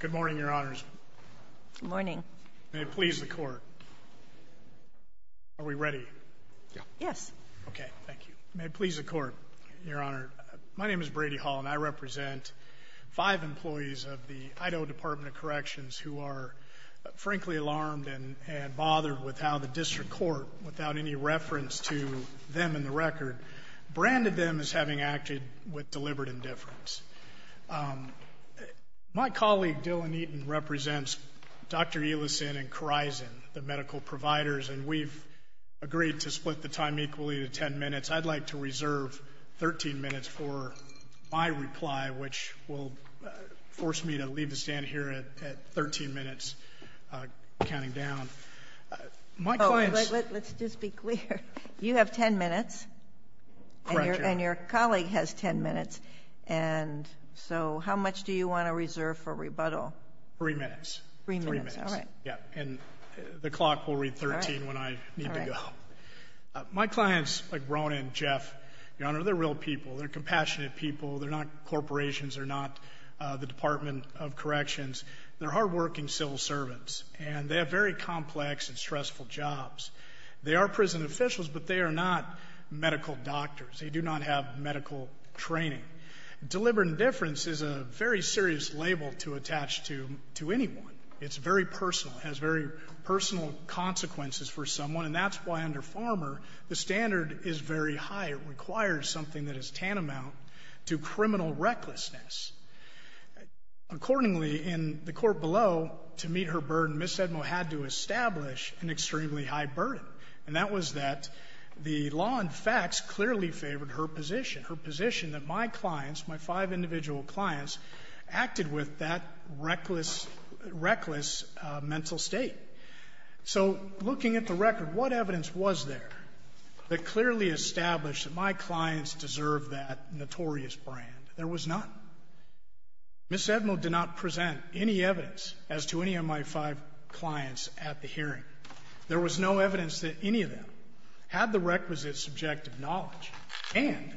Good morning, Your Honors. Good morning. May it please the Court. Are we ready? Yes. Okay, thank you. May it please the Court, Your Honor. My name is Brady Hall, and I represent five employees of the Idaho Department of Corrections who are, frankly, alarmed and bothered with how the District Court, without any reference to them in the record, branded them as having acted with deliberate indifference. My colleague, Dylan Eaton, represents Dr. Elison and Corizon, the medical providers, and we've agreed to split the time equally to 10 minutes. I'd like to reserve 13 minutes for my reply, which will force me to leave the stand here at 13 minutes, counting down. Let's just be clear. You have 10 minutes, and your colleague has 10 minutes. And so how much do you want to reserve for rebuttal? Three minutes. Three minutes, all right. Yeah, and the clock will read 13 when I need to go. My clients, like Rona and Jeff, Your Honor, they're real people. They're compassionate people. They're not corporations. They're not the Department of Corrections. They're hardworking civil servants, and they have very complex and stressful jobs. They are prison officials, but they are not medical doctors. They do not have medical training. Deliberate indifference is a very serious label to attach to anyone. It's very personal. It has very personal consequences for someone, and that's why under Farmer, the standard is very high. It requires something that is tantamount to criminal recklessness. Accordingly, in the court below, to meet her burden, Ms. Sedmo had to establish an extremely high burden, and that was that the law and facts clearly favored her position, her position that my clients, my five individual clients, acted with that reckless mental state. So looking at the record, what evidence was there that clearly established that my clients deserved that notorious brand? There was none. Ms. Sedmo did not present any evidence as to any of my five clients at the hearing. There was no evidence that any of them had the requisite subjective knowledge, and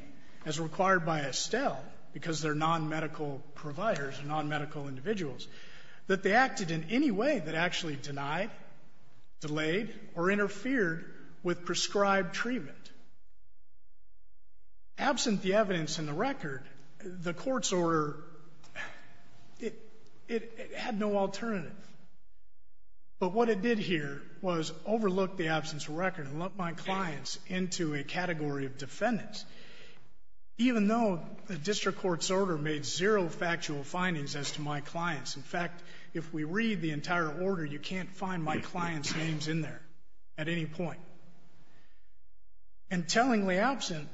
as required by Estelle, because they're nonmedical providers, nonmedical individuals, that they acted in any way that actually denied, delayed, or interfered with prescribed treatment. Absent the evidence in the record, the court's order, it had no alternative. But what it did here was overlook the absence of record and lump my clients into a category of defendants, even though the district court's order made zero factual findings as to my clients. In fact, if we read the entire order, you can't find my clients' names in there at any point. And tellingly absent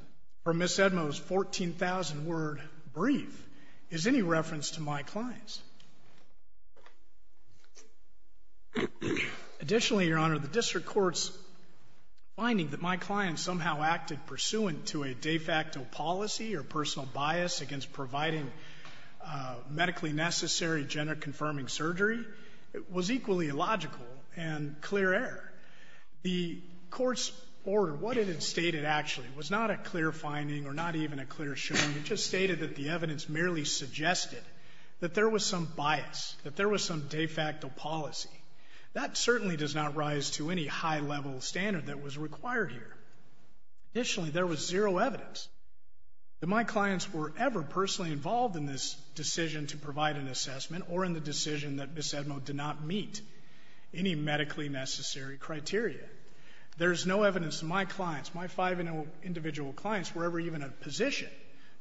from Ms. Sedmo's 14,000-word brief is any reference to my clients. Additionally, Your Honor, the district court's finding that my clients somehow acted pursuant to a de facto policy or personal bias against providing medically necessary gender-confirming surgery was equally illogical and clear-air. The court's order, what it had stated actually was not a clear finding or not even a clear showing. It just stated that the evidence merely suggested that there was some bias, that there was some de facto policy. That certainly does not rise to any high-level standard that was required here. Additionally, there was zero evidence that my clients were ever personally involved in this decision to provide an assessment or in the decision that Ms. Sedmo did not meet any medically necessary criteria. There is no evidence that my clients, my five individual clients, were ever even in a position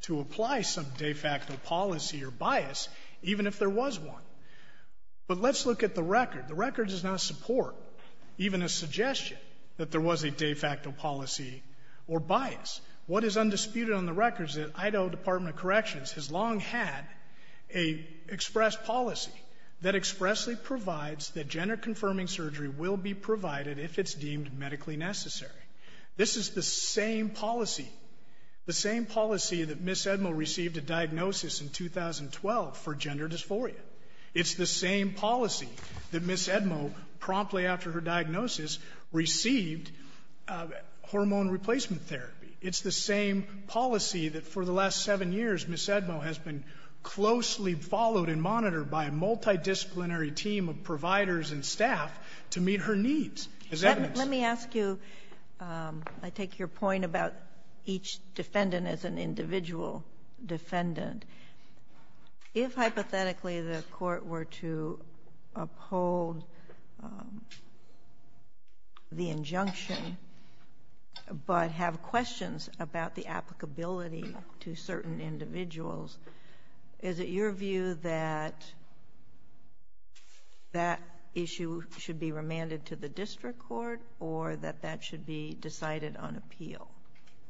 to apply some de facto policy or bias, even if there was one. But let's look at the record. The record does not support even a suggestion that there was a de facto policy or bias. What is undisputed on the record is that Idaho Department of Corrections has long had an express policy that expressly provides that gender-confirming surgery will be provided if it's deemed medically necessary. This is the same policy, the same policy that Ms. Sedmo received a diagnosis in 2012 for gender dysphoria. It's the same policy that Ms. Sedmo promptly after her diagnosis received hormone replacement therapy. It's the same policy that for the last seven years Ms. Sedmo has been closely followed and monitored by a multidisciplinary team of providers and staff to meet her needs as evidence. Let me ask you, I take your point about each defendant as an individual defendant. If hypothetically the court were to uphold the injunction, but have questions about the applicability to certain individuals, is it your view that that issue should be remanded to the district court or that that should be decided on appeal?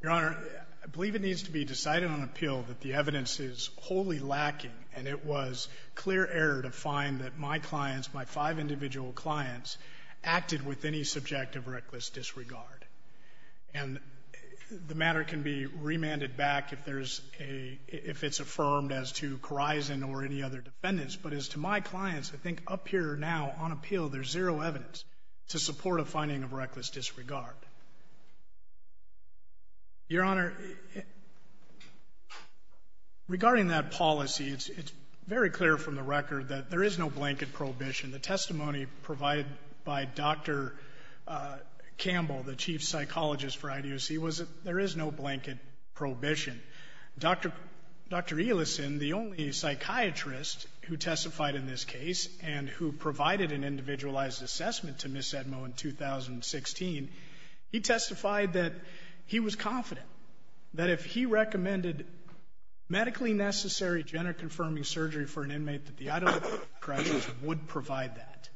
Your Honor, I believe it needs to be decided on appeal that the evidence is wholly lacking and it was clear error to find that my clients, my five individual clients, acted with any subject of reckless disregard. And the matter can be remanded back if it's affirmed as to Corison or any other defendants. But as to my clients, I think up here now on appeal there's zero evidence to support a finding of reckless disregard. Your Honor, regarding that policy, it's very clear from the record that there is no blanket prohibition. The testimony provided by Dr. Campbell, the chief psychologist for IDOC, was that there is no blanket prohibition. Dr. Elison, the only psychiatrist who testified in this case and who provided an individualized assessment to Ms. Sedmo in 2016, he testified that he was confident that if he recommended medically necessary gender-confirming surgery for an inmate that the IDOC corrections would provide that.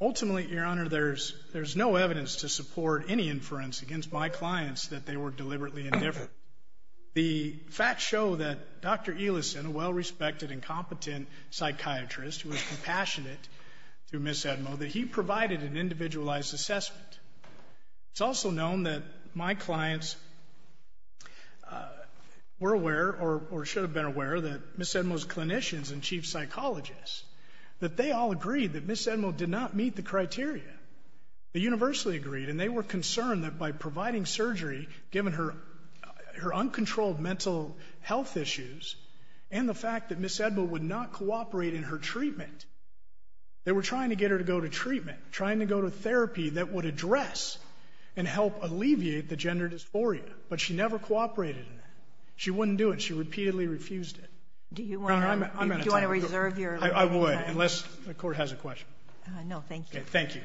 Ultimately, Your Honor, there's no evidence to support any inference against my clients that they were deliberately indifferent. The facts show that Dr. Elison, a well-respected and competent psychiatrist who was compassionate to Ms. Sedmo, that he provided an individualized assessment. It's also known that my clients were aware or should have been aware that Ms. Sedmo's clinicians and chief psychologists, that they all agreed that Ms. Sedmo did not meet the criteria. They universally agreed, and they were concerned that by providing surgery, given her uncontrolled mental health issues and the fact that Ms. Sedmo would not cooperate in her treatment, they were trying to get her to go to treatment, trying to go to therapy that would address and help alleviate the gender dysphoria. But she never cooperated in that. She wouldn't do it. She repeatedly refused it. Do you want to reserve your time? I would, unless the Court has a question. No, thank you. Okay, thank you.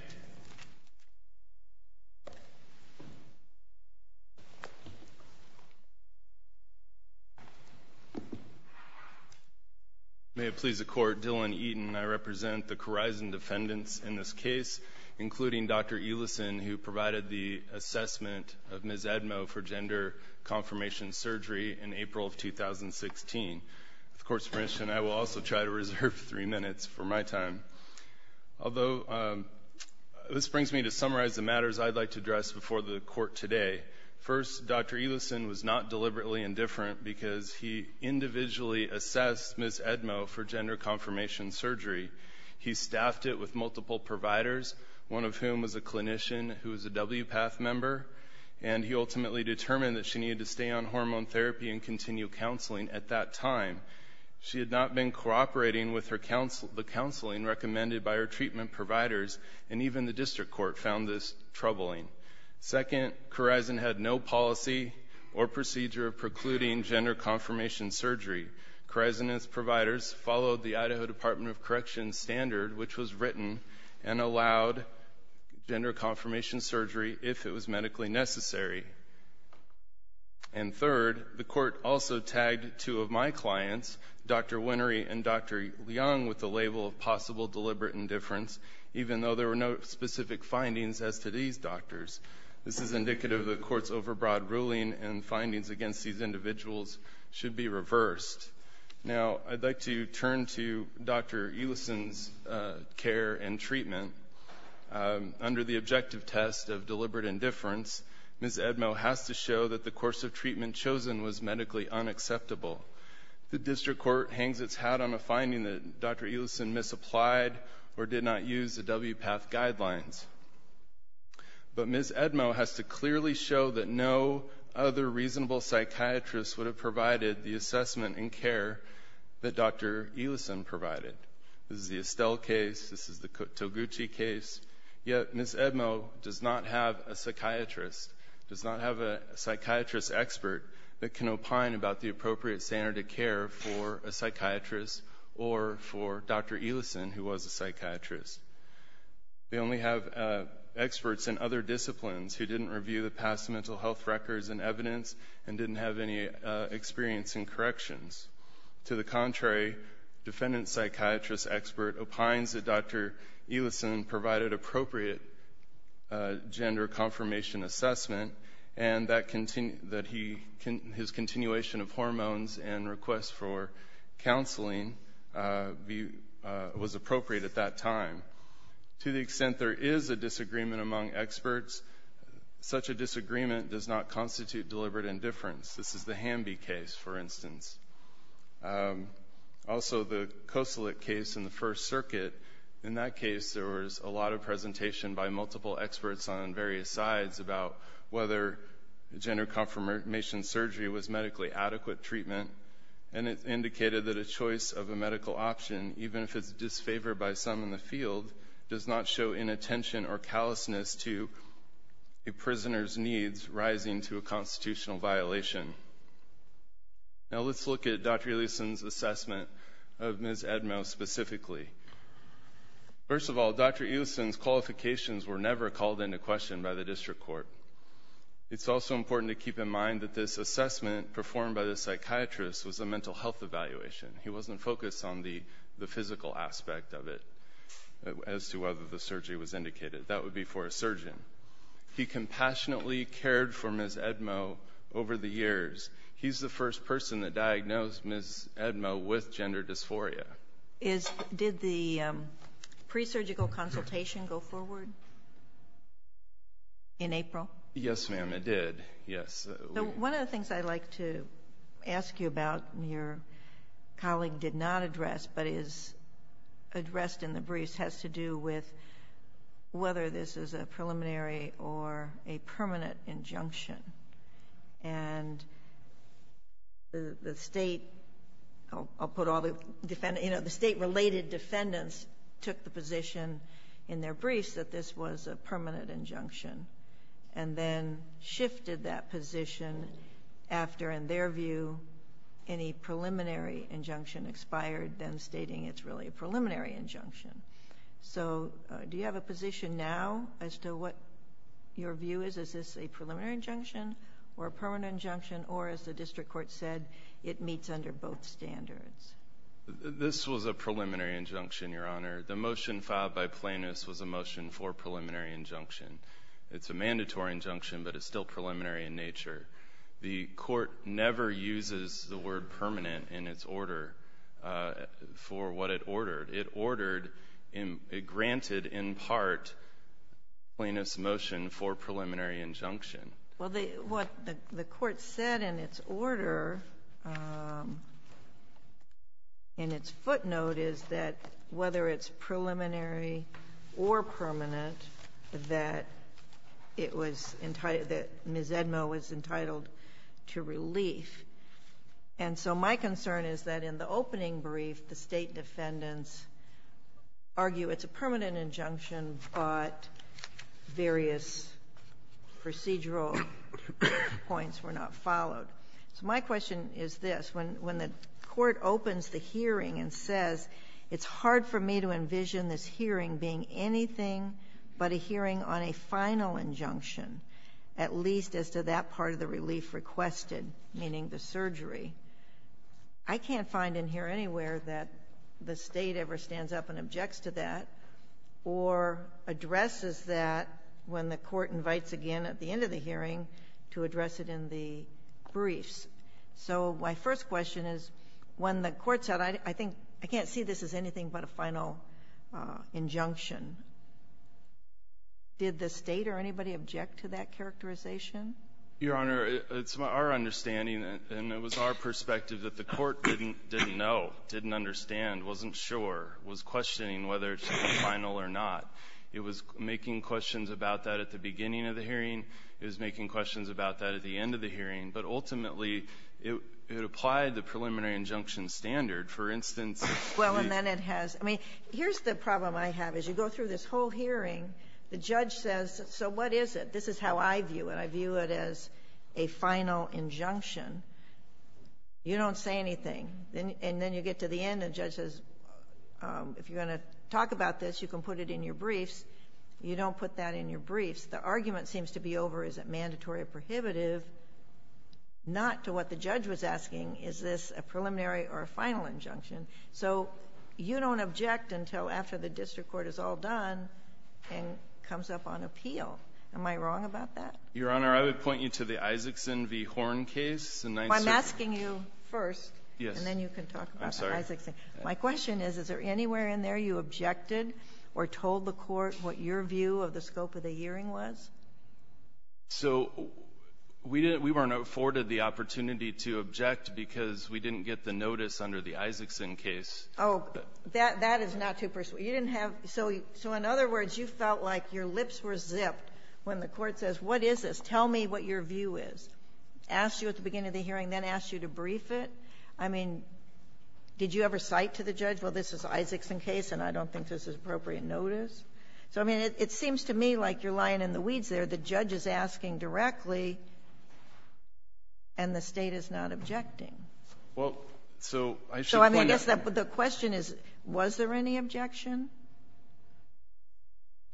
May it please the Court, Dylan Eaton and I represent the Corizon defendants in this case, including Dr. Elison who provided the assessment of Ms. Sedmo for gender confirmation surgery in April of 2016. With the Court's permission, I will also try to reserve three minutes for my time. Although this brings me to summarize the matters I'd like to address before the Court today. First, Dr. Elison was not deliberately indifferent because he individually assessed Ms. Sedmo for gender confirmation surgery. He staffed it with multiple providers, one of whom was a clinician who was a WPATH member, and he ultimately determined that she needed to stay on hormone therapy and continue counseling at that time. She had not been cooperating with the counseling recommended by her treatment providers, and even the District Court found this troubling. Second, Corizon had no policy or procedure precluding gender confirmation surgery. Corizon and its providers followed the Idaho Department of Corrections standard, which was written, and allowed gender confirmation surgery if it was medically necessary. And third, the Court also tagged two of my clients, Dr. Winery and Dr. Leong, with the label of possible deliberate indifference, even though there were no specific findings as to these doctors. This is indicative of the Court's overbroad ruling, and findings against these individuals should be reversed. Now, I'd like to turn to Dr. Elison's care and treatment. Under the objective test of deliberate indifference, Ms. Edmo has to show that the course of treatment chosen was medically unacceptable. The District Court hangs its hat on a finding that Dr. Elison misapplied or did not use the WPATH guidelines. But Ms. Edmo has to clearly show that no other reasonable psychiatrist would have provided the assessment and care that Dr. Elison provided. This is the Estelle case, this is the Toguchi case. Yet Ms. Edmo does not have a psychiatrist, does not have a psychiatrist expert that can opine about the appropriate standard of care for a psychiatrist or for Dr. Elison, who was a psychiatrist. They only have experts in other disciplines who didn't review the past mental health records and evidence and didn't have any experience in corrections. To the contrary, defendant psychiatrist expert opines that Dr. Elison provided appropriate gender confirmation assessment and that his continuation of hormones and requests for counseling was appropriate at that time. To the extent there is a disagreement among experts, such a disagreement does not constitute deliberate indifference. This is the Hamby case, for instance. Also, the Kosolik case in the First Circuit, in that case there was a lot of presentation by multiple experts on various sides about whether gender confirmation surgery was medically adequate treatment, and it indicated that a choice of a medical option, even if it's disfavored by some in the field, does not show inattention or callousness to a prisoner's needs rising to a constitutional violation. Now let's look at Dr. Elison's assessment of Ms. Edmo specifically. First of all, Dr. Elison's qualifications were never called into question by the district court. It's also important to keep in mind that this assessment performed by the psychiatrist was a mental health evaluation. He wasn't focused on the physical aspect of it as to whether the surgery was indicated. That would be for a surgeon. He compassionately cared for Ms. Edmo over the years. He's the first person that diagnosed Ms. Edmo with gender dysphoria. Did the presurgical consultation go forward in April? Yes, ma'am, it did. One of the things I'd like to ask you about, your colleague did not address but is addressed in the briefs, has to do with whether this is a preliminary or a permanent injunction. The state related defendants took the position in their briefs that this was a permanent injunction, and then shifted that position after, in their view, any preliminary injunction expired, then stating it's really a preliminary injunction. So do you have a position now as to what your view is? Is this a preliminary injunction or a permanent injunction, or as the district court said, it meets under both standards? This was a preliminary injunction, Your Honor. The motion filed by plaintiffs was a motion for preliminary injunction. It's a mandatory injunction, but it's still preliminary in nature. The court never uses the word permanent in its order for what it ordered. It granted, in part, plaintiff's motion for preliminary injunction. Well, what the court said in its order, in its footnote, is that whether it's preliminary or permanent, that Ms. Edmo was entitled to relief. And so my concern is that in the opening brief, the state defendants argue it's a permanent injunction, but various procedural points were not followed. So my question is this. When the court opens the hearing and says, it's hard for me to envision this hearing being anything but a hearing on a final injunction, at least as to that part of the relief requested, meaning the surgery, I can't find in here anywhere that the state ever stands up and objects to that or addresses that when the court invites again at the end of the hearing to address it in the briefs. So my first question is, when the court said, I think I can't see this as anything but a final injunction, did the state or anybody object to that characterization? Your Honor, it's our understanding, and it was our perspective that the court didn't know, didn't understand, wasn't sure, was questioning whether it's final or not. It was making questions about that at the beginning of the hearing. It was making questions about that at the end of the hearing. But ultimately, it applied the preliminary injunction standard. For instance, if you... Well, and then it has... I mean, here's the problem I have. As you go through this whole hearing, the judge says, so what is it? This is how I view it. I view it as a final injunction. You don't say anything. And then you get to the end, and the judge says, if you're going to talk about this, you can put it in your briefs. You don't put that in your briefs. If the argument seems to be over, is it mandatory or prohibitive, not to what the judge was asking, is this a preliminary or a final injunction? So you don't object until after the district court is all done and comes up on appeal. Am I wrong about that? Your Honor, I would point you to the Isaacson v. Horn case. I'm asking you first, and then you can talk about the Isaacson. My question is, is there anywhere in there you objected or told the court what your view of the scope of the hearing was? So we weren't afforded the opportunity to object because we didn't get the notice under the Isaacson case. Oh, that is not too persuasive. So in other words, you felt like your lips were zipped when the court says, what is this? Tell me what your view is. Asked you at the beginning of the hearing, then asked you to brief it. I mean, did you ever cite to the judge, well, this is the Isaacson case, and I don't think this is appropriate notice? So, I mean, it seems to me like you're lying in the weeds there. The judge is asking directly, and the State is not objecting. Well, so I should point out. So I guess the question is, was there any objection?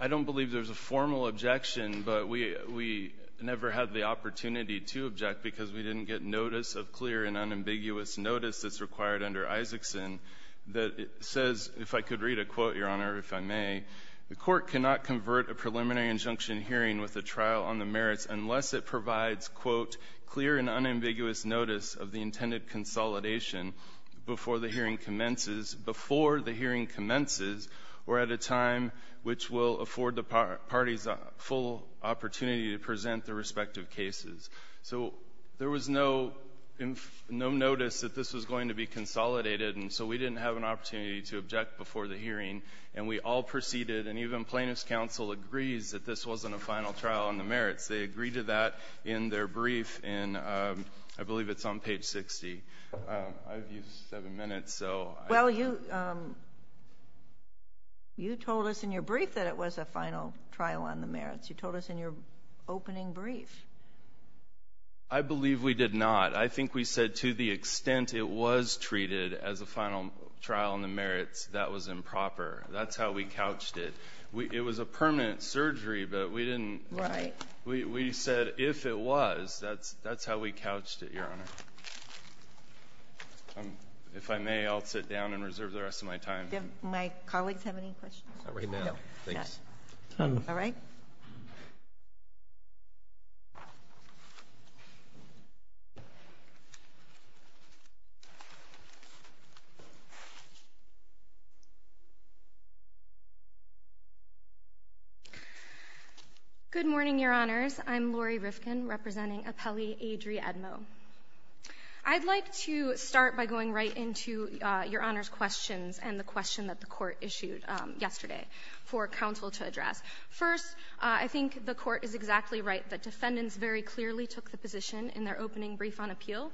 I don't believe there's a formal objection, but we never had the opportunity to object because we didn't get notice of clear and unambiguous notice that's required under Isaacson that says, if I could read a quote, Your Honor, if I may, the court cannot convert a preliminary injunction hearing with a trial on the merits unless it provides, quote, clear and unambiguous notice of the intended consolidation before the hearing commences or at a time which will afford the parties a full opportunity to present their respective cases. So there was no notice that this was going to be consolidated, and so we didn't have an opportunity to object before the hearing, and we all proceeded, and even plaintiff's counsel agrees that this wasn't a final trial on the merits. They agreed to that in their brief, and I believe it's on page 60. I've used seven minutes, so I don't know. Well, you told us in your brief that it was a final trial on the merits. You told us in your opening brief. I believe we did not. I think we said to the extent it was treated as a final trial on the merits, that was improper. That's how we couched it. It was a permanent surgery, but we didn't. We said if it was, that's how we couched it, Your Honor. If I may, I'll sit down and reserve the rest of my time. Do my colleagues have any questions? Not right now. Thanks. All right. Good morning, Your Honors. I'm Lori Rifkin, representing appellee Adri Edmo. I'd like to start by going right into Your Honor's questions and the question that the Court issued yesterday for counsel to address. First, I think the Court is exactly right that defendants very clearly took the position in their opening brief on appeal.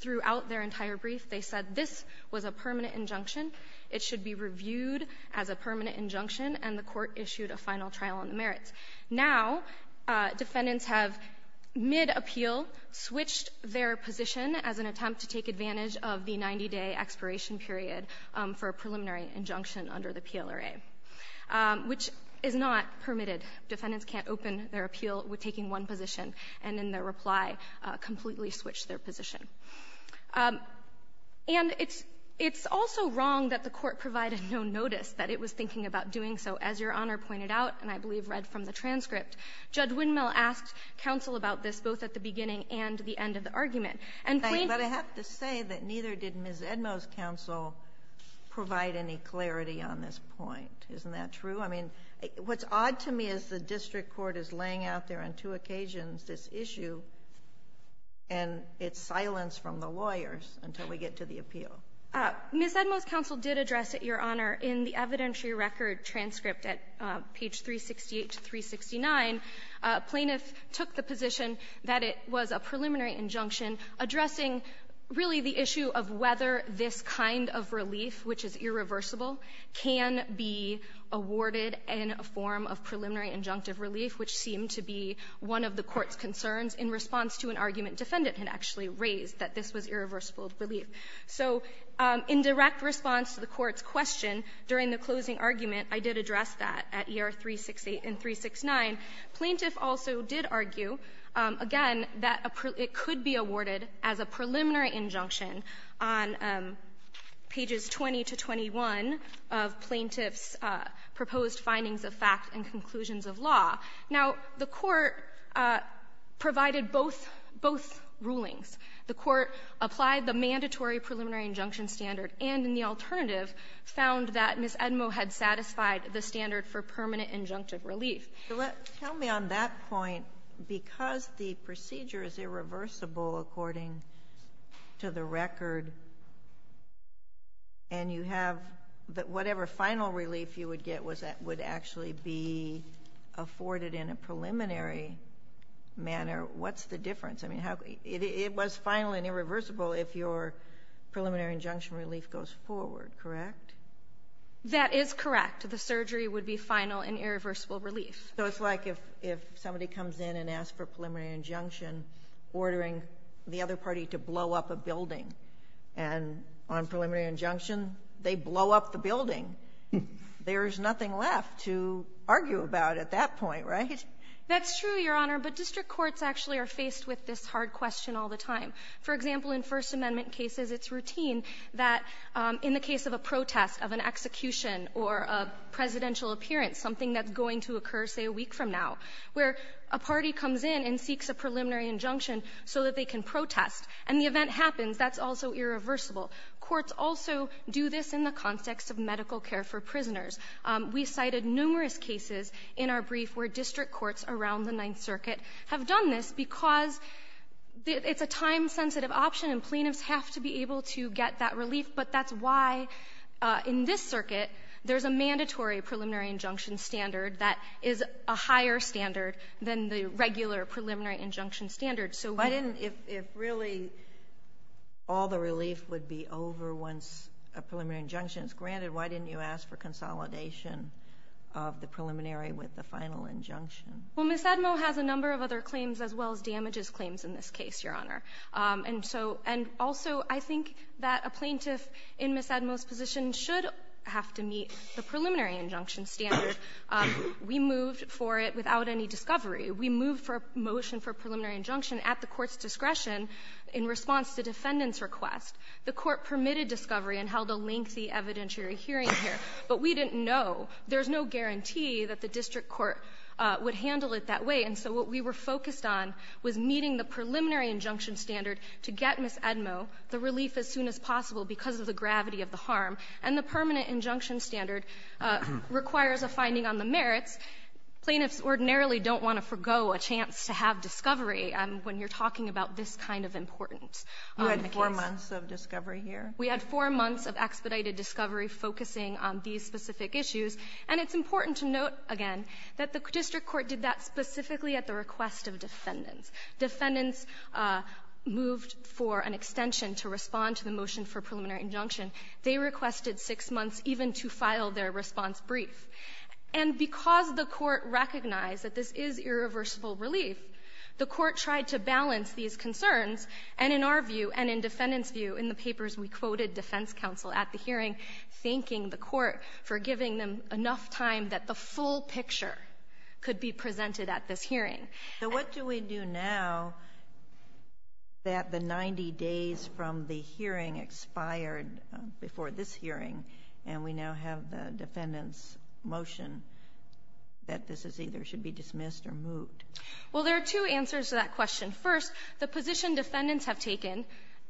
Throughout their entire brief, they said this was a permanent injunction, it should be reviewed as a permanent injunction, and the Court issued a final trial on the merits. Now, defendants have, mid-appeal, switched their position as an attempt to take a 24-day expiration period for a preliminary injunction under the PLRA, which is not permitted. Defendants can't open their appeal with taking one position, and in their reply, completely switched their position. And it's also wrong that the Court provided no notice that it was thinking about doing so. As Your Honor pointed out, and I believe read from the transcript, Judge Windmill asked counsel about this both at the beginning and the end of the argument. And plaintiffs But I have to say that neither did Ms. Edmo's counsel provide any clarity on this point. Isn't that true? I mean, what's odd to me is the district court is laying out there on two occasions this issue, and it's silence from the lawyers until we get to the appeal. Ms. Edmo's counsel did address it, Your Honor, in the evidentiary record transcript at page 368 to 369. Plaintiff took the position that it was a preliminary injunction addressing really the issue of whether this kind of relief, which is irreversible, can be awarded in a form of preliminary injunctive relief, which seemed to be one of the Court's concerns in response to an argument defendant had actually raised, that this was irreversible relief. So in direct response to the Court's question during the closing argument, I did address that at year 368 and 369. Plaintiff also did argue, again, that it could be awarded as a preliminary injunction on pages 20 to 21 of plaintiff's proposed findings of fact and conclusions of law. Now, the Court provided both rulings. The Court applied the mandatory preliminary injunction standard and in the alternative found that Ms. Edmo had satisfied the standard for permanent injunctive relief. Tell me on that point, because the procedure is irreversible according to the record and you have whatever final relief you would get would actually be afforded in a case. I mean, it was final and irreversible if your preliminary injunction relief goes forward, correct? That is correct. The surgery would be final and irreversible relief. So it's like if somebody comes in and asks for preliminary injunction, ordering the other party to blow up a building, and on preliminary injunction, they blow up the building. There's nothing left to argue about at that point, right? That's true, Your Honor. But district courts actually are faced with this hard question all the time. For example, in First Amendment cases, it's routine that in the case of a protest of an execution or a presidential appearance, something that's going to occur, say, a week from now, where a party comes in and seeks a preliminary injunction so that they can protest, and the event happens, that's also irreversible. Courts also do this in the context of medical care for prisoners. We cited numerous cases in our brief where district courts around the Ninth Circuit have done this because it's a time-sensitive option, and plaintiffs have to be able to get that relief. But that's why in this circuit, there's a mandatory preliminary injunction standard that is a higher standard than the regular preliminary injunction standard. Why didn't, if really all the relief would be over once a preliminary injunction is granted, why didn't you ask for consolidation of the preliminary with the final injunction? Well, Ms. Admo has a number of other claims as well as damages claims in this case, Your Honor. And also, I think that a plaintiff in Ms. Admo's position should have to meet the preliminary injunction standard. We moved for it without any discovery. We moved for a motion for preliminary injunction at the court's discretion in response to defendant's request. The court permitted discovery and held a lengthy evidentiary hearing here. But we didn't know. There's no guarantee that the district court would handle it that way. And so what we were focused on was meeting the preliminary injunction standard to get Ms. Admo the relief as soon as possible because of the gravity of the harm. And the permanent injunction standard requires a finding on the merits. Plaintiffs ordinarily don't want to forgo a chance to have discovery when you're talking about this kind of importance on the case. So you had four months of discovery here? We had four months of expedited discovery focusing on these specific issues. And it's important to note, again, that the district court did that specifically at the request of defendants. Defendants moved for an extension to respond to the motion for preliminary injunction. They requested six months even to file their response brief. And because the court recognized that this is irreversible relief, the court tried to balance these concerns, and in our view and in defendants' view, in the papers we quoted defense counsel at the hearing, thanking the court for giving them enough time that the full picture could be presented at this hearing. So what do we do now that the 90 days from the hearing expired before this hearing and we now have the defendant's motion that this either should be dismissed or moved? Well, there are two answers to that question. First, the position defendants have taken,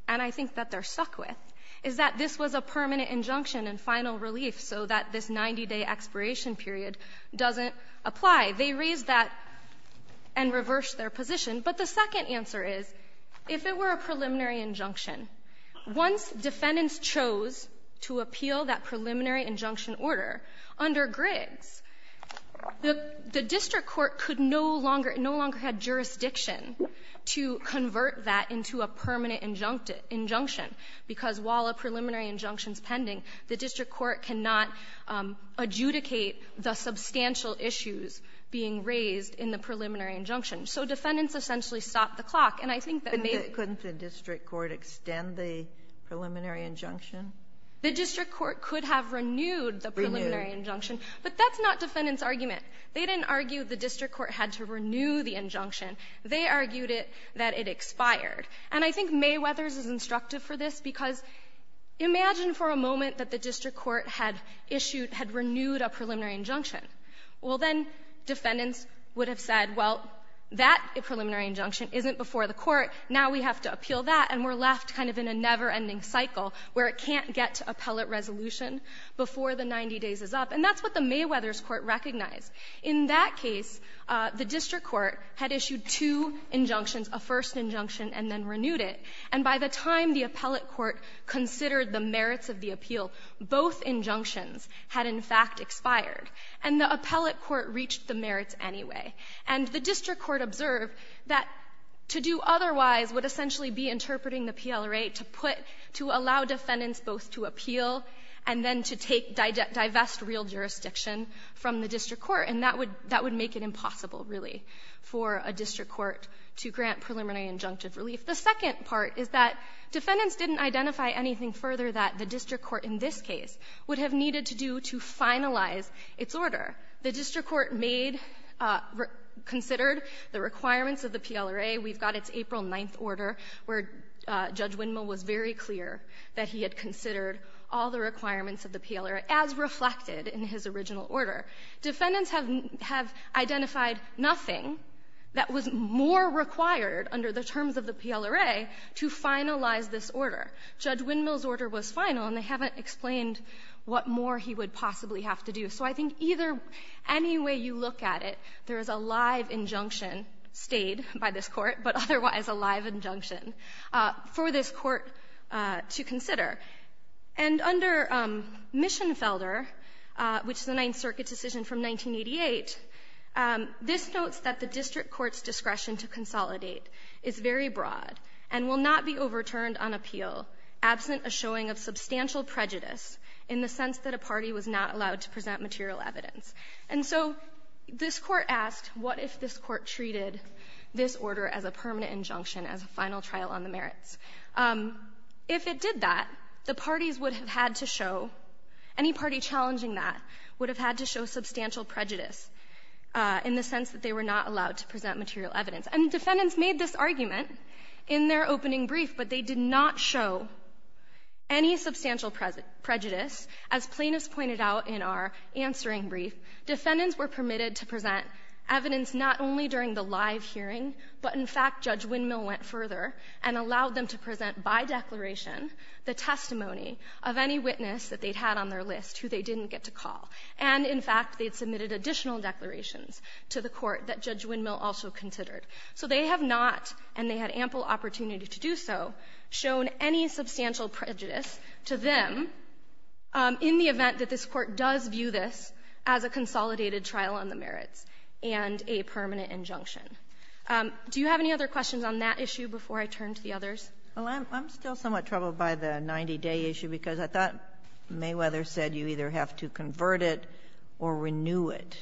and I think that they're stuck with, is that this was a permanent injunction and final relief, so that this 90-day expiration period doesn't apply. They raised that and reversed their position. But the second answer is, if it were a preliminary injunction, once defendants chose to appeal that preliminary injunction order under Griggs, the district court could no longer, no longer had jurisdiction to convert that into a permanent injunction, because while a preliminary injunction's pending, the district court cannot adjudicate the substantial issues being raised in the preliminary injunction. So defendants essentially stopped the clock. And I think that may be the case. Sotomayor, couldn't the district court extend the preliminary injunction? The district court could have renewed the preliminary injunction. But that's not defendants' argument. They didn't argue the district court had to renew the injunction. They argued it, that it expired. And I think Mayweather's is instructive for this, because imagine for a moment that the district court had issued, had renewed a preliminary injunction. Well, then defendants would have said, well, that preliminary injunction isn't before the court. Now we have to appeal that, and we're left kind of in a never-ending cycle where it can't get to appellate resolution before the 90 days is up. And that's what the Mayweather's court recognized. In that case, the district court had issued two injunctions, a first injunction and then renewed it. And by the time the appellate court considered the merits of the appeal, both injunctions had in fact expired. And the appellate court reached the merits anyway. And the district court observed that to do otherwise would essentially be interpreting the PLRA to put, to allow defendants both to appeal and then to take, divest real jurisdiction from the district court. And that would make it impossible, really, for a district court to grant preliminary injunctive relief. The second part is that defendants didn't identify anything further that the district court in this case would have needed to do to finalize its order. The district court made, considered the requirements of the PLRA. We've got its April 9th order, where Judge Winmo was very clear that he had considered all the requirements of the PLRA as reflected in his original order. Defendants have identified nothing that was more required under the terms of the PLRA to finalize this order. Judge Winmo's order was final, and they haven't explained what more he would possibly have to do. So I think either, any way you look at it, there is a live injunction stayed by this court to consider. And under Mischenfelder, which is a Ninth Circuit decision from 1988, this notes that the district court's discretion to consolidate is very broad and will not be overturned on appeal absent a showing of substantial prejudice in the sense that a party was not allowed to present material evidence. And so this court asked, what if this court treated this order as a permanent injunction, as a final trial on the merits? If it did that, the parties would have had to show, any party challenging that would have had to show substantial prejudice in the sense that they were not allowed to present material evidence. And defendants made this argument in their opening brief, but they did not show any substantial prejudice. As plaintiffs pointed out in our answering brief, defendants were permitted to present evidence not only during the live hearing, but in fact Judge Windmill went further and allowed them to present by declaration the testimony of any witness that they had on their list who they didn't get to call. And in fact, they had submitted additional declarations to the court that Judge Windmill also considered. So they have not, and they had ample opportunity to do so, shown any substantial prejudice to them in the event that this court does view this as a consolidated trial on the merits and a permanent injunction. Do you have any other questions on that issue before I turn to the others? Well, I'm still somewhat troubled by the 90-day issue because I thought Mayweather said you either have to convert it or renew it.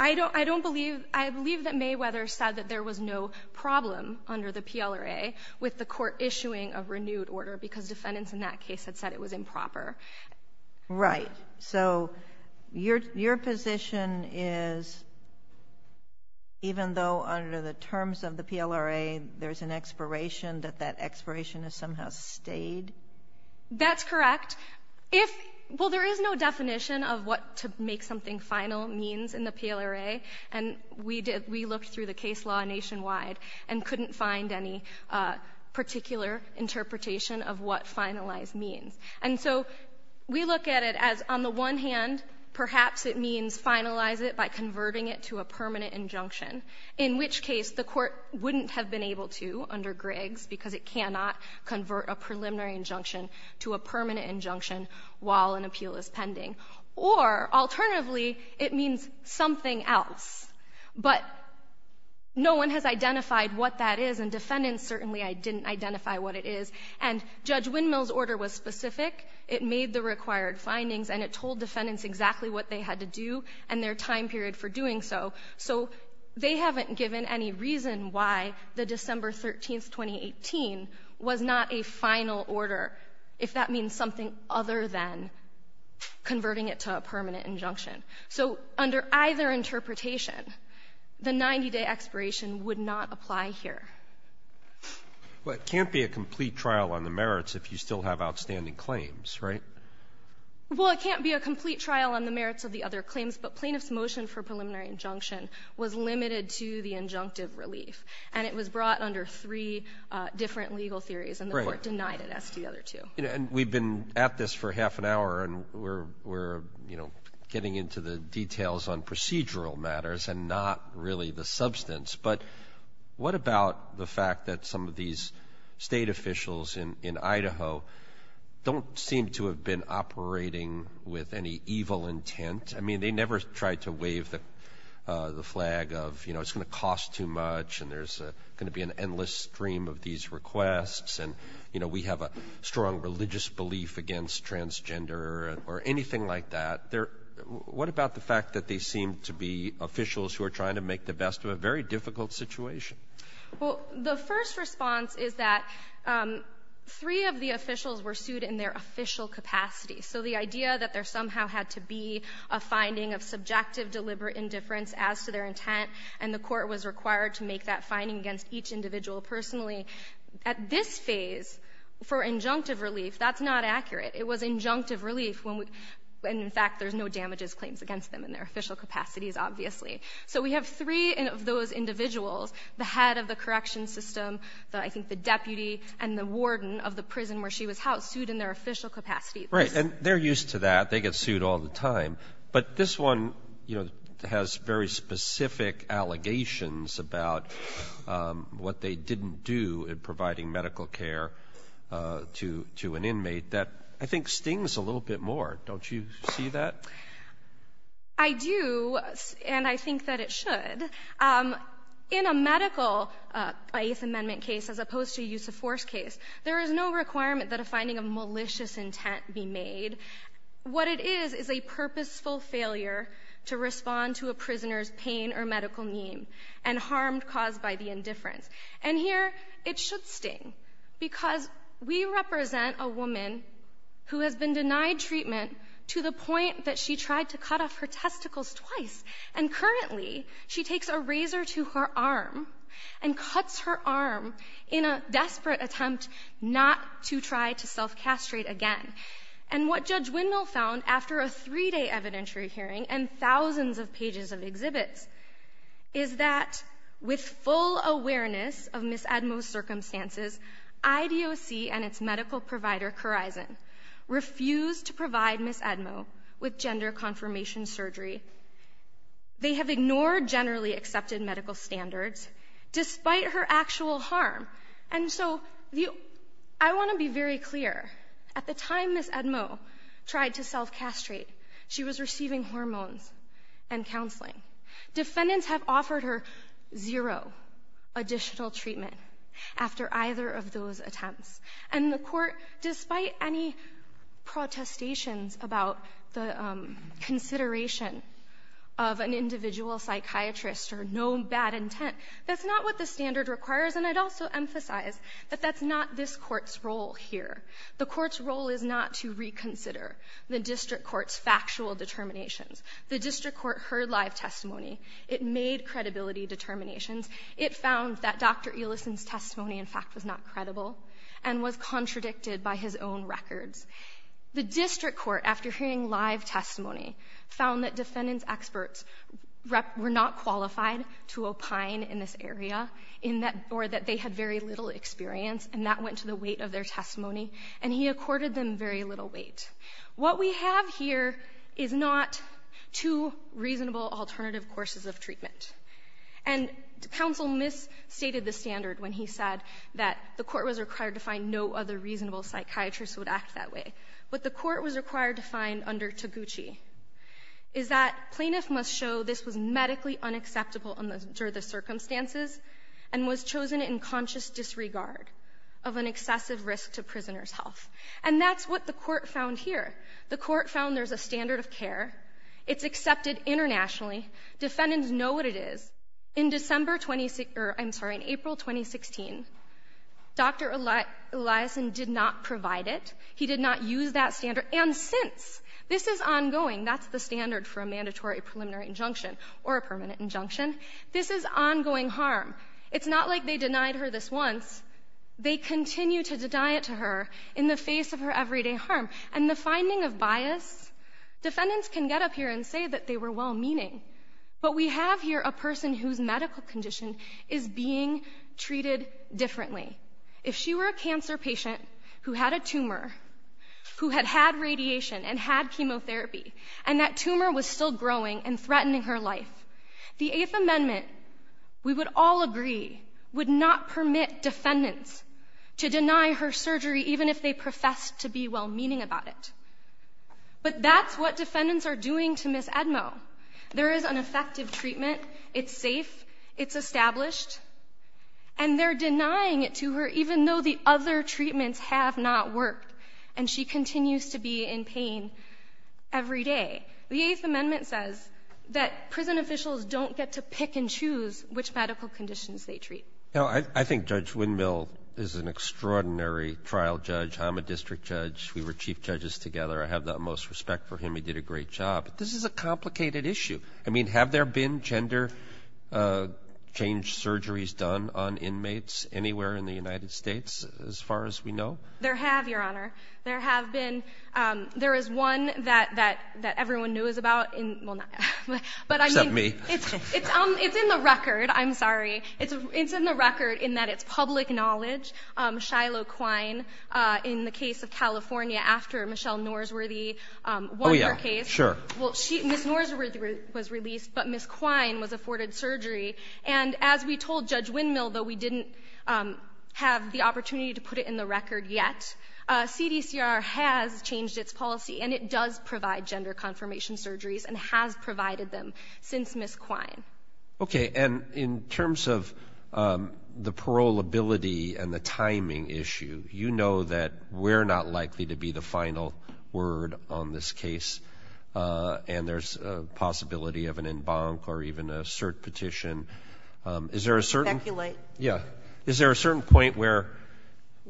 I don't believe, I believe that Mayweather said that there was no problem under the PLRA with the court issuing a renewed order because defendants in that case had said it was improper. Right. So your position is even though under the terms of the PLRA there's an expiration, that that expiration has somehow stayed? That's correct. Well, there is no definition of what to make something final means in the PLRA, and we looked through the case law nationwide and couldn't find any particular interpretation of what finalized means. And so we look at it as on the one hand, perhaps it means finalize it by converting it to a permanent injunction, in which case the court wouldn't have been able to under Griggs because it cannot convert a preliminary injunction to a permanent injunction while an appeal is pending. Or alternatively, it means something else, but no one has identified what that is, and defendants certainly didn't identify what it is. And Judge Windmill's order was specific. It made the required findings and it told defendants exactly what they had to do and their time period for doing so. So they haven't given any reason why the December 13, 2018, was not a final order if that means something other than converting it to a permanent injunction. So under either interpretation, the 90-day expiration would not apply here. Well, it can't be a complete trial on the merits if you still have outstanding claims, right? Well, it can't be a complete trial on the merits of the other claims, but Plaintiff's motion for preliminary injunction was limited to the injunctive relief, and it was brought under three different legal theories, and the Court denied it, as did the other two. And we've been at this for half an hour, and we're, you know, getting into the details on procedural matters and not really the substance. But what about the fact that some of these state officials in Idaho don't seem to have been operating with any evil intent? I mean, they never tried to wave the flag of, you know, it's going to cost too much and there's going to be an endless stream of these requests, and, you know, we have a strong religious belief against transgender or anything like that. They're — what about the fact that they seem to be officials who are trying to make the best of a very difficult situation? Well, the first response is that three of the officials were sued in their official capacity. So the idea that there somehow had to be a finding of subjective deliberate indifference as to their intent, and the Court was required to make that finding against each individual personally. At this phase, for injunctive relief, that's not accurate. It was injunctive relief when, in fact, there's no damages claims against them in their official capacities, obviously. So we have three of those individuals, the head of the correction system, I think the deputy, and the warden of the prison where she was housed, sued in their official capacity. Right. And they're used to that. They get sued all the time. But this one, you know, has very specific allegations about what they didn't do in I think stings a little bit more. Don't you see that? I do, and I think that it should. In a medical, by Eighth Amendment case, as opposed to a use of force case, there is no requirement that a finding of malicious intent be made. What it is is a purposeful failure to respond to a prisoner's pain or medical need and harm caused by the indifference. And here, it should sting because we represent a woman who has been denied treatment to the point that she tried to cut off her testicles twice. And currently, she takes a razor to her arm and cuts her arm in a desperate attempt not to try to self-castrate again. And what Judge Windmill found after a three-day evidentiary hearing and that with full awareness of Ms. Edmo's circumstances, IDOC and its medical provider, Corizon, refused to provide Ms. Edmo with gender confirmation surgery. They have ignored generally accepted medical standards despite her actual harm. And so I want to be very clear. At the time Ms. Edmo tried to self-castrate, she was receiving hormones and counseling. Defendants have offered her zero additional treatment after either of those attempts. And the Court, despite any protestations about the consideration of an individual psychiatrist or no bad intent, that's not what the standard requires. And I'd also emphasize that that's not this Court's role here. The Court's role is not to reconsider the district court's factual determinations. The district court heard live testimony. It made credibility determinations. It found that Dr. Ellison's testimony, in fact, was not credible and was contradicted by his own records. The district court, after hearing live testimony, found that defendants' experts were not qualified to opine in this area or that they had very little experience. And that went to the weight of their testimony. And he accorded them very little weight. What we have here is not two reasonable alternative courses of treatment. And counsel misstated the standard when he said that the Court was required to find no other reasonable psychiatrist who would act that way. What the Court was required to find under Taguchi is that plaintiff must show this was medically unacceptable under the circumstances and was chosen in conscious disregard of an excessive risk to prisoners' health. And that's what the Court found here. The Court found there's a standard of care. It's accepted internationally. Defendants know what it is. In April 2016, Dr. Ellison did not provide it. He did not use that standard. And since, this is ongoing, that's the standard for a mandatory preliminary injunction or a permanent injunction. This is ongoing harm. It's not like they denied her this once. They continue to deny it to her in the face of her everyday harm. And the finding of bias, defendants can get up here and say that they were well-meaning. But we have here a person whose medical condition is being treated differently. If she were a cancer patient who had a tumor, who had had radiation and had chemotherapy, and that tumor was still growing and threatening her life, the Eighth Amendment, we would all agree, would not permit defendants to deny her surgery even if they professed to be well-meaning about it. But that's what defendants are doing to Ms. Edmo. There is an effective treatment. It's safe. It's established. And they're denying it to her even though the other treatments have not worked, and she continues to be in pain every day. The Eighth Amendment says that prison officials don't get to pick and choose which medical conditions they treat. Now, I think Judge Windmill is an extraordinary trial judge. I'm a district judge. We were chief judges together. I have the utmost respect for him. He did a great job. But this is a complicated issue. I mean, have there been gender change surgeries done on inmates anywhere in the United States, as far as we know? There have, Your Honor. There is one that everyone knows about. Except me. It's in the record. I'm sorry. It's in the record in that it's public knowledge. Shiloh Quine, in the case of California, after Michelle Norsworthy won her case. Oh, yeah, sure. Well, Ms. Norsworthy was released, but Ms. Quine was afforded surgery. And as we told Judge Windmill, though, we didn't have the opportunity to put it in the record yet, CDCR has changed its policy, and it does provide gender confirmation surgeries and has provided them since Ms. Quine. Okay. And in terms of the paroleability and the timing issue, you know that we're not likely to be the final word on this case, and there's a possibility of an en banc or even a cert petition. Is there a certain point where,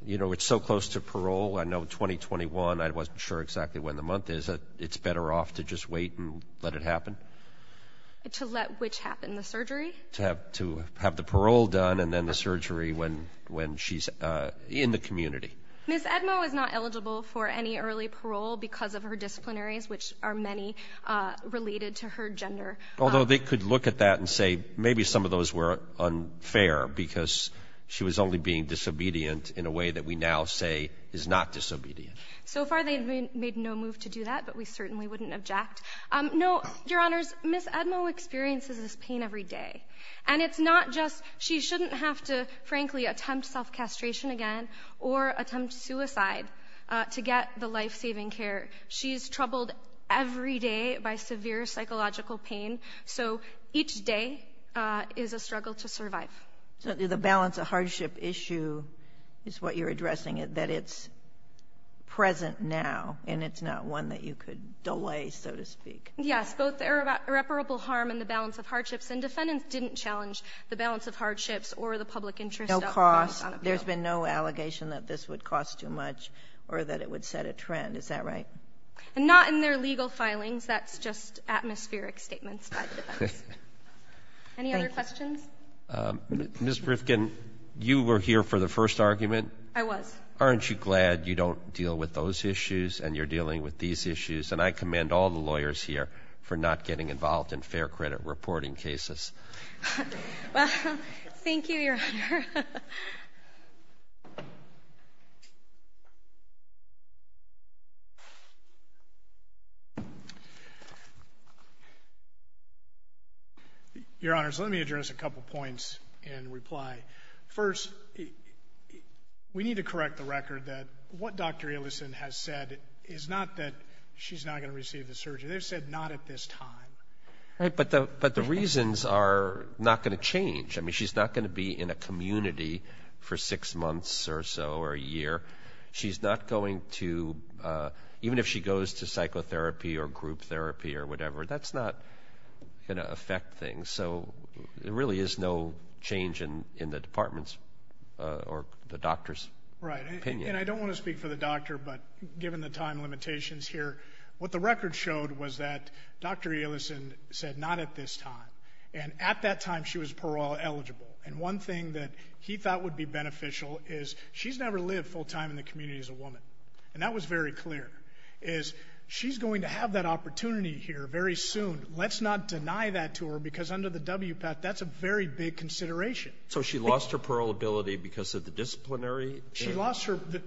you know, we're so close to parole, I know 2021, I wasn't sure exactly when the month is, it's better off to just wait and let it happen? To let which happen? The surgery? To have the parole done and then the surgery when she's in the community. Ms. Edmo is not eligible for any early parole because of her disciplinaries, which are many related to her gender. Although they could look at that and say maybe some of those were unfair because she was only being disobedient in a way that we now say is not disobedient. So far they've made no move to do that, but we certainly wouldn't object. No, Your Honors, Ms. Edmo experiences this pain every day, and it's not just she shouldn't have to, frankly, attempt self-castration again or attempt suicide to get the life-saving care. She's troubled every day by severe psychological pain, so each day is a struggle to survive. So the balance of hardship issue is what you're addressing, that it's present now and it's not one that you could delay, so to speak. Yes, both the irreparable harm and the balance of hardships, and defendants didn't challenge the balance of hardships or the public interest. No cost? There's been no allegation that this would cost too much or that it would set a trend. Is that right? And not in their legal filings. That's just atmospheric statements by the defense. Any other questions? Ms. Rifkin, you were here for the first argument. I was. Aren't you glad you don't deal with those issues and you're dealing with these issues? And I commend all the lawyers here for not getting involved in fair credit reporting cases. Thank you, Your Honor. Your Honors, let me address a couple points in reply. First, we need to correct the record that what Dr. Ellison has said is not that she's not going to receive the surgery. They've said not at this time. Right, but the reasons are not going to change. I mean, she's not going to be in a community for six months or so or a year. She's not going to, even if she goes to psychotherapy or group therapy or whatever, that's not going to affect things. So there really is no change in the department's or the doctor's opinion. Right, and I don't want to speak for the doctor, but given the time limitations here, what the record showed was that Dr. Ellison said not at this time, and at that time she was parole eligible. And one thing that he thought would be beneficial is she's never lived full time in the community as a woman, and that was very clear, is she's going to have that opportunity here very soon. Let's not deny that to her because under the WPAT, that's a very big consideration. So she lost her parole ability because of the disciplinary? The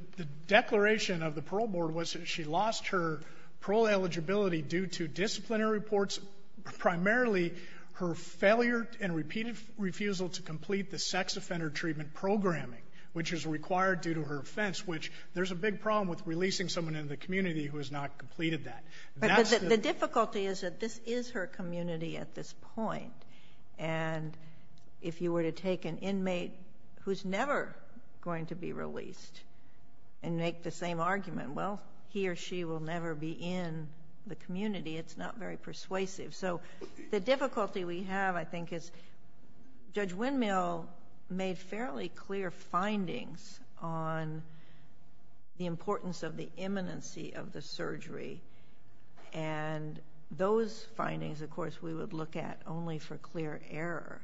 declaration of the parole board was that she lost her parole eligibility due to disciplinary reports, primarily her failure and repeated refusal to complete the sex offender treatment programming, which is required due to her offense, which there's a big problem with releasing someone in the community who has not completed that. But the difficulty is that this is her community at this point, and if you were to take an inmate who's never going to be released and make the same argument, well, he or she will never be in the community, it's not very persuasive. So the difficulty we have, I think, is Judge Windmill made fairly clear findings on the importance of the imminency of the surgery, and those findings, of course, we would look at only for clear error.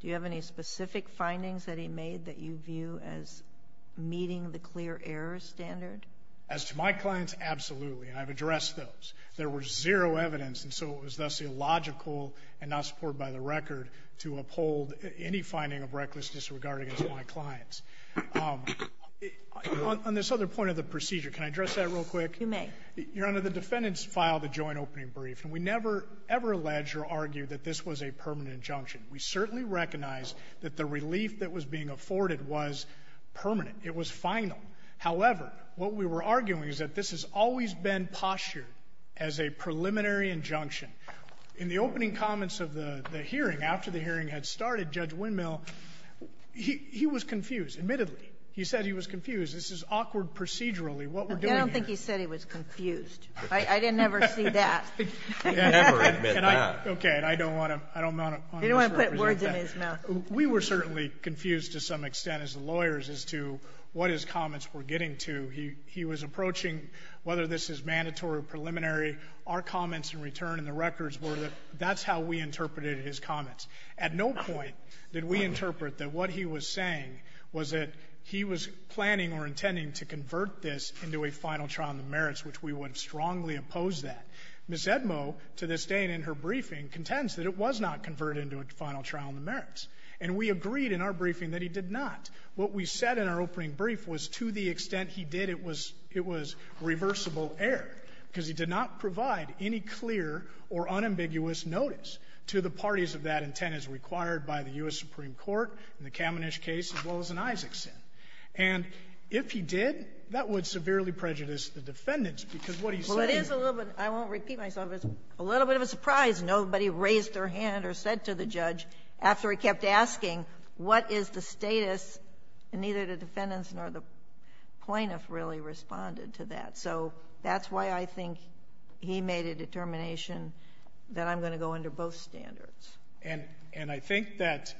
Do you have any specific findings that he made that you view as meeting the clear error standard? As to my clients, absolutely, and I've addressed those. There was zero evidence, and so it was thus illogical and not supported by the record to uphold any finding of reckless disregard against my clients. On this other point of the procedure, can I address that real quick? You may. Your Honor, the defendants filed a joint opening brief, and we never, ever alleged or argued that this was a permanent injunction. We certainly recognized that the relief that was being afforded was permanent. It was final. However, what we were arguing is that this has always been postured as a preliminary injunction. In the opening comments of the hearing, after the hearing had started, Judge Windmill he was confused, admittedly. This is awkward procedurally, what we're doing here. I don't think he said he was confused. I didn't ever see that. Never admit that. Okay, and I don't want to misrepresent that. You don't want to put words in his mouth. We were certainly confused to some extent as lawyers as to what his comments were getting to. He was approaching whether this is mandatory or preliminary. Our comments in return in the records were that that's how we interpreted his comments. At no point did we interpret that what he was saying was that he was planning or intending to convert this into a final trial in the merits, which we would strongly oppose that. Ms. Edmo, to this day and in her briefing, contends that it was not converted into a final trial in the merits. And we agreed in our briefing that he did not. What we said in our opening brief was to the extent he did, it was reversible error because he did not provide any clear or unambiguous notice to the parties of that intent as required by the U.S. Supreme Court in the Kamenish case as well as in Isaacson. And if he did, that would severely prejudice the defendants because what he's saying is— Well, it is a little bit—I won't repeat myself—it's a little bit of a surprise nobody raised their hand or said to the judge after he kept asking what is the status, and neither the defendants nor the plaintiff really responded to that. So that's why I think he made a determination that I'm going to go under both standards. And I think that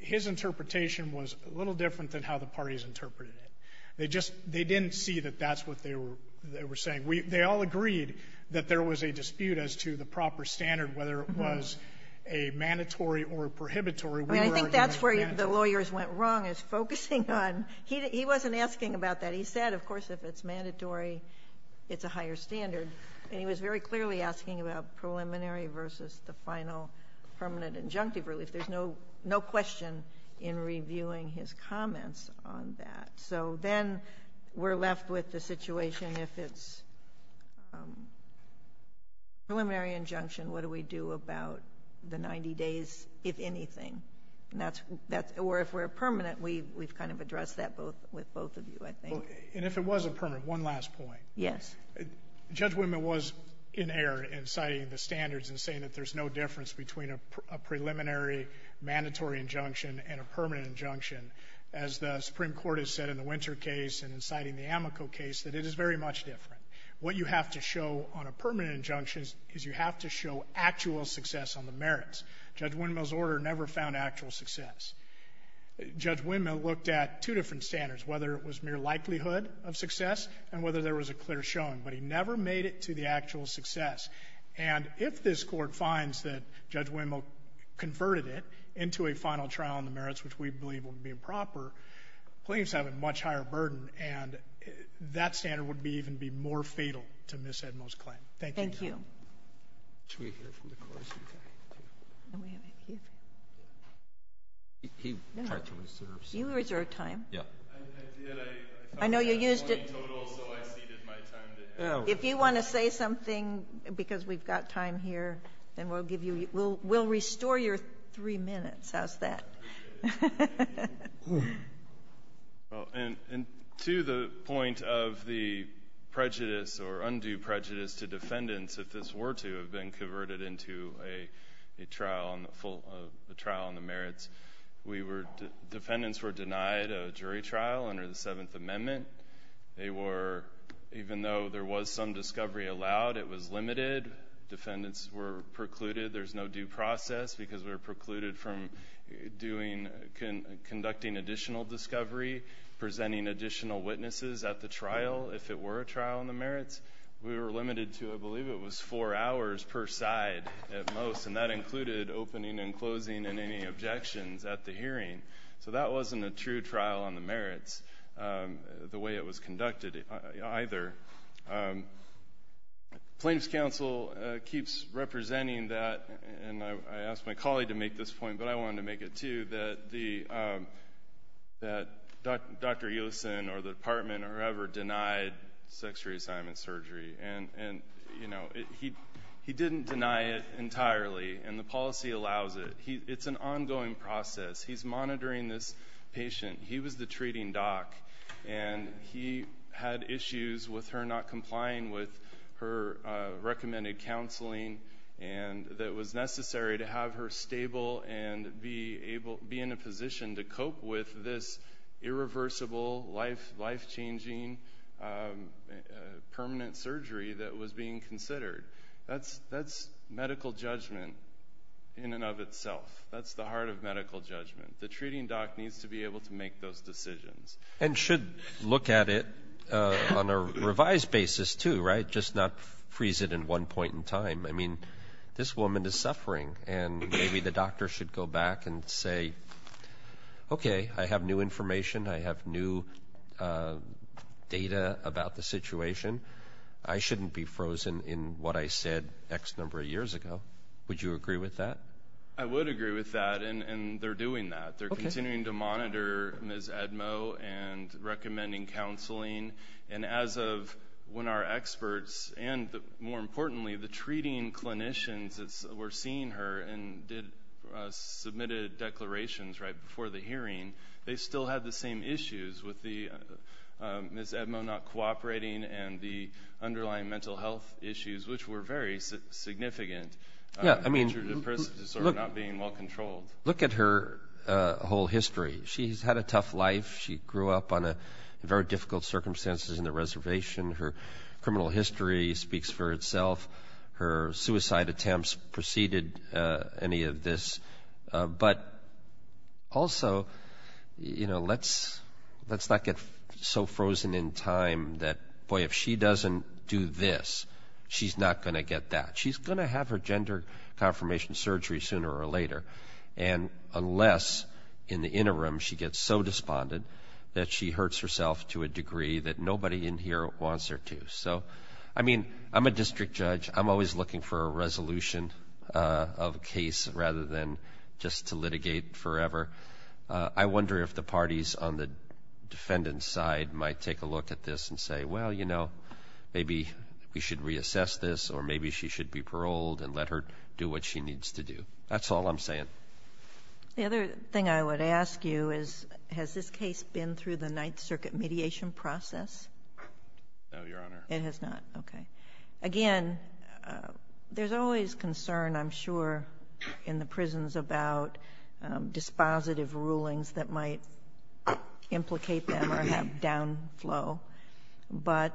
his interpretation was a little different than how the parties interpreted it. They just — they didn't see that that's what they were saying. They all agreed that there was a dispute as to the proper standard, whether it was a mandatory or a prohibitory. We were arguing a mandatory. I think that's where the lawyers went wrong, is focusing on — he wasn't asking about that. He said, of course, if it's mandatory, it's a higher standard. And he was very clearly asking about preliminary versus the final permanent injunctive relief. There's no question in reviewing his comments on that. So then we're left with the situation if it's preliminary injunction, what do we do about the 90 days, if anything? Or if we're permanent, we've kind of addressed that with both of you, I think. And if it was a permanent, one last point. Yes. Judge Windmill was in error in citing the standards and saying that there's no difference between a preliminary mandatory injunction and a permanent injunction. As the Supreme Court has said in the Winter case and in citing the Amoco case, that it is very much different. What you have to show on a permanent injunction is you have to show actual success on the merits. Judge Windmill's order never found actual success. Judge Windmill looked at two different standards, whether it was mere likelihood of success and whether there was a clear showing, but he never made it to the actual success. And if this Court finds that Judge Windmill converted it into a final trial on the merits, which we believe will be improper, claims have a much higher burden, and that standard would even be more fatal to Ms. Edmo's claim. Thank you. Thank you. Should we hear from the courts? He tried to reserve some time. You reserved time. Yeah. I know you used it. If you want to say something because we've got time here, then we'll restore your three minutes. How's that? To the point of the prejudice or undue prejudice to defendants, if this were to have been converted into a trial on the merits, defendants were denied a jury trial under the Seventh Amendment. They were, even though there was some discovery allowed, it was limited. Defendants were precluded. There's no due process because we were precluded from conducting additional discovery, presenting additional witnesses at the trial if it were a trial on the merits. We were limited to, I believe it was four hours per side at most, and that included opening and closing and any objections at the hearing. So that wasn't a true trial on the merits, the way it was conducted either. Plaintiff's counsel keeps representing that, and I asked my colleague to make this point, but I wanted to make it too, that Dr. Yoson or the department or whoever denied sex reassignment surgery. He didn't deny it entirely, and the policy allows it. It's an ongoing process. He's monitoring this patient. He was the treating doc, and he had issues with her not complying with her recommended counseling that it was necessary to have her stable and be in a position to cope with this irreversible, life-changing permanent surgery that was being considered. That's medical judgment in and of itself. That's the heart of medical judgment. The treating doc needs to be able to make those decisions. And should look at it on a revised basis too, right, just not freeze it in one point in time. I mean, this woman is suffering, and maybe the doctor should go back and say, okay, I have new information. I have new data about the situation. I shouldn't be frozen in what I said X number of years ago. Would you agree with that? I would agree with that, and they're doing that. They're continuing to monitor Ms. Edmo and recommending counseling. And as of when our experts and, more importantly, the treating clinicians were seeing her and submitted declarations right before the hearing, they still had the same issues with Ms. Edmo not cooperating and the underlying mental health issues, which were very significant. Yeah, I mean, look at her whole history. She's had a tough life. She grew up on very difficult circumstances in the reservation. Her criminal history speaks for itself. Her suicide attempts preceded any of this. But also, you know, let's not get so frozen in time that, boy, if she doesn't do this, she's not going to get that. She's going to have her gender confirmation surgery sooner or later, and unless in the interim she gets so despondent that she hurts herself to a degree that nobody in here wants her to. So, I mean, I'm a district judge. I'm always looking for a resolution of a case rather than just to litigate forever. I wonder if the parties on the defendant's side might take a look at this and say, well, you know, maybe we should reassess this or maybe she should be paroled and let her do what she needs to do. That's all I'm saying. The other thing I would ask you is, has this case been through the Ninth Circuit mediation process? No, Your Honor. It has not. Okay. Again, there's always concern, I'm sure, in the prisons about dispositive rulings that might implicate them or have downflow. But,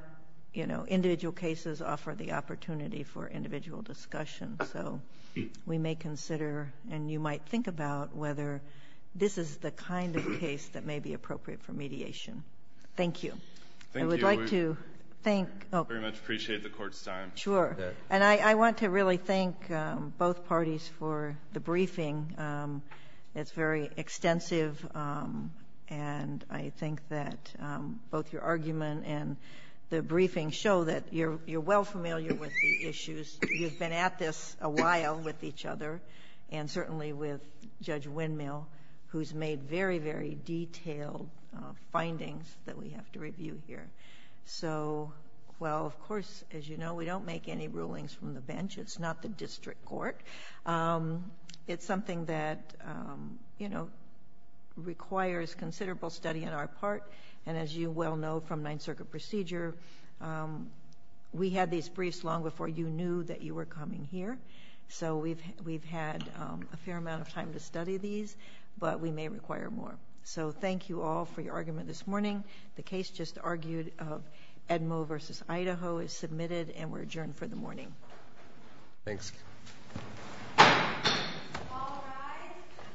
you know, individual cases offer the opportunity for individual discussion. So we may consider, and you might think about, whether this is the kind of case that may be appropriate for mediation. Thank you. Thank you. I would like to thank. I very much appreciate the Court's time. Sure. And I want to really thank both parties for the briefing. It's very extensive, and I think that both your argument and the briefing show that you're well familiar with the issues. You've been at this a while with each other, and certainly with Judge Windmill, who's made very, very detailed findings that we have to review here. So, well, of course, as you know, we don't make any rulings from the bench. It's not the district court. It's something that, you know, requires considerable study on our part. And as you well know from Ninth Circuit procedure, we had these briefs long before you knew that you were coming here. So we've had a fair amount of time to study these, but we may require more. So thank you all for your argument this morning. The case just argued of Edmo versus Idaho is submitted, and we're adjourned for the morning. Thanks. All rise.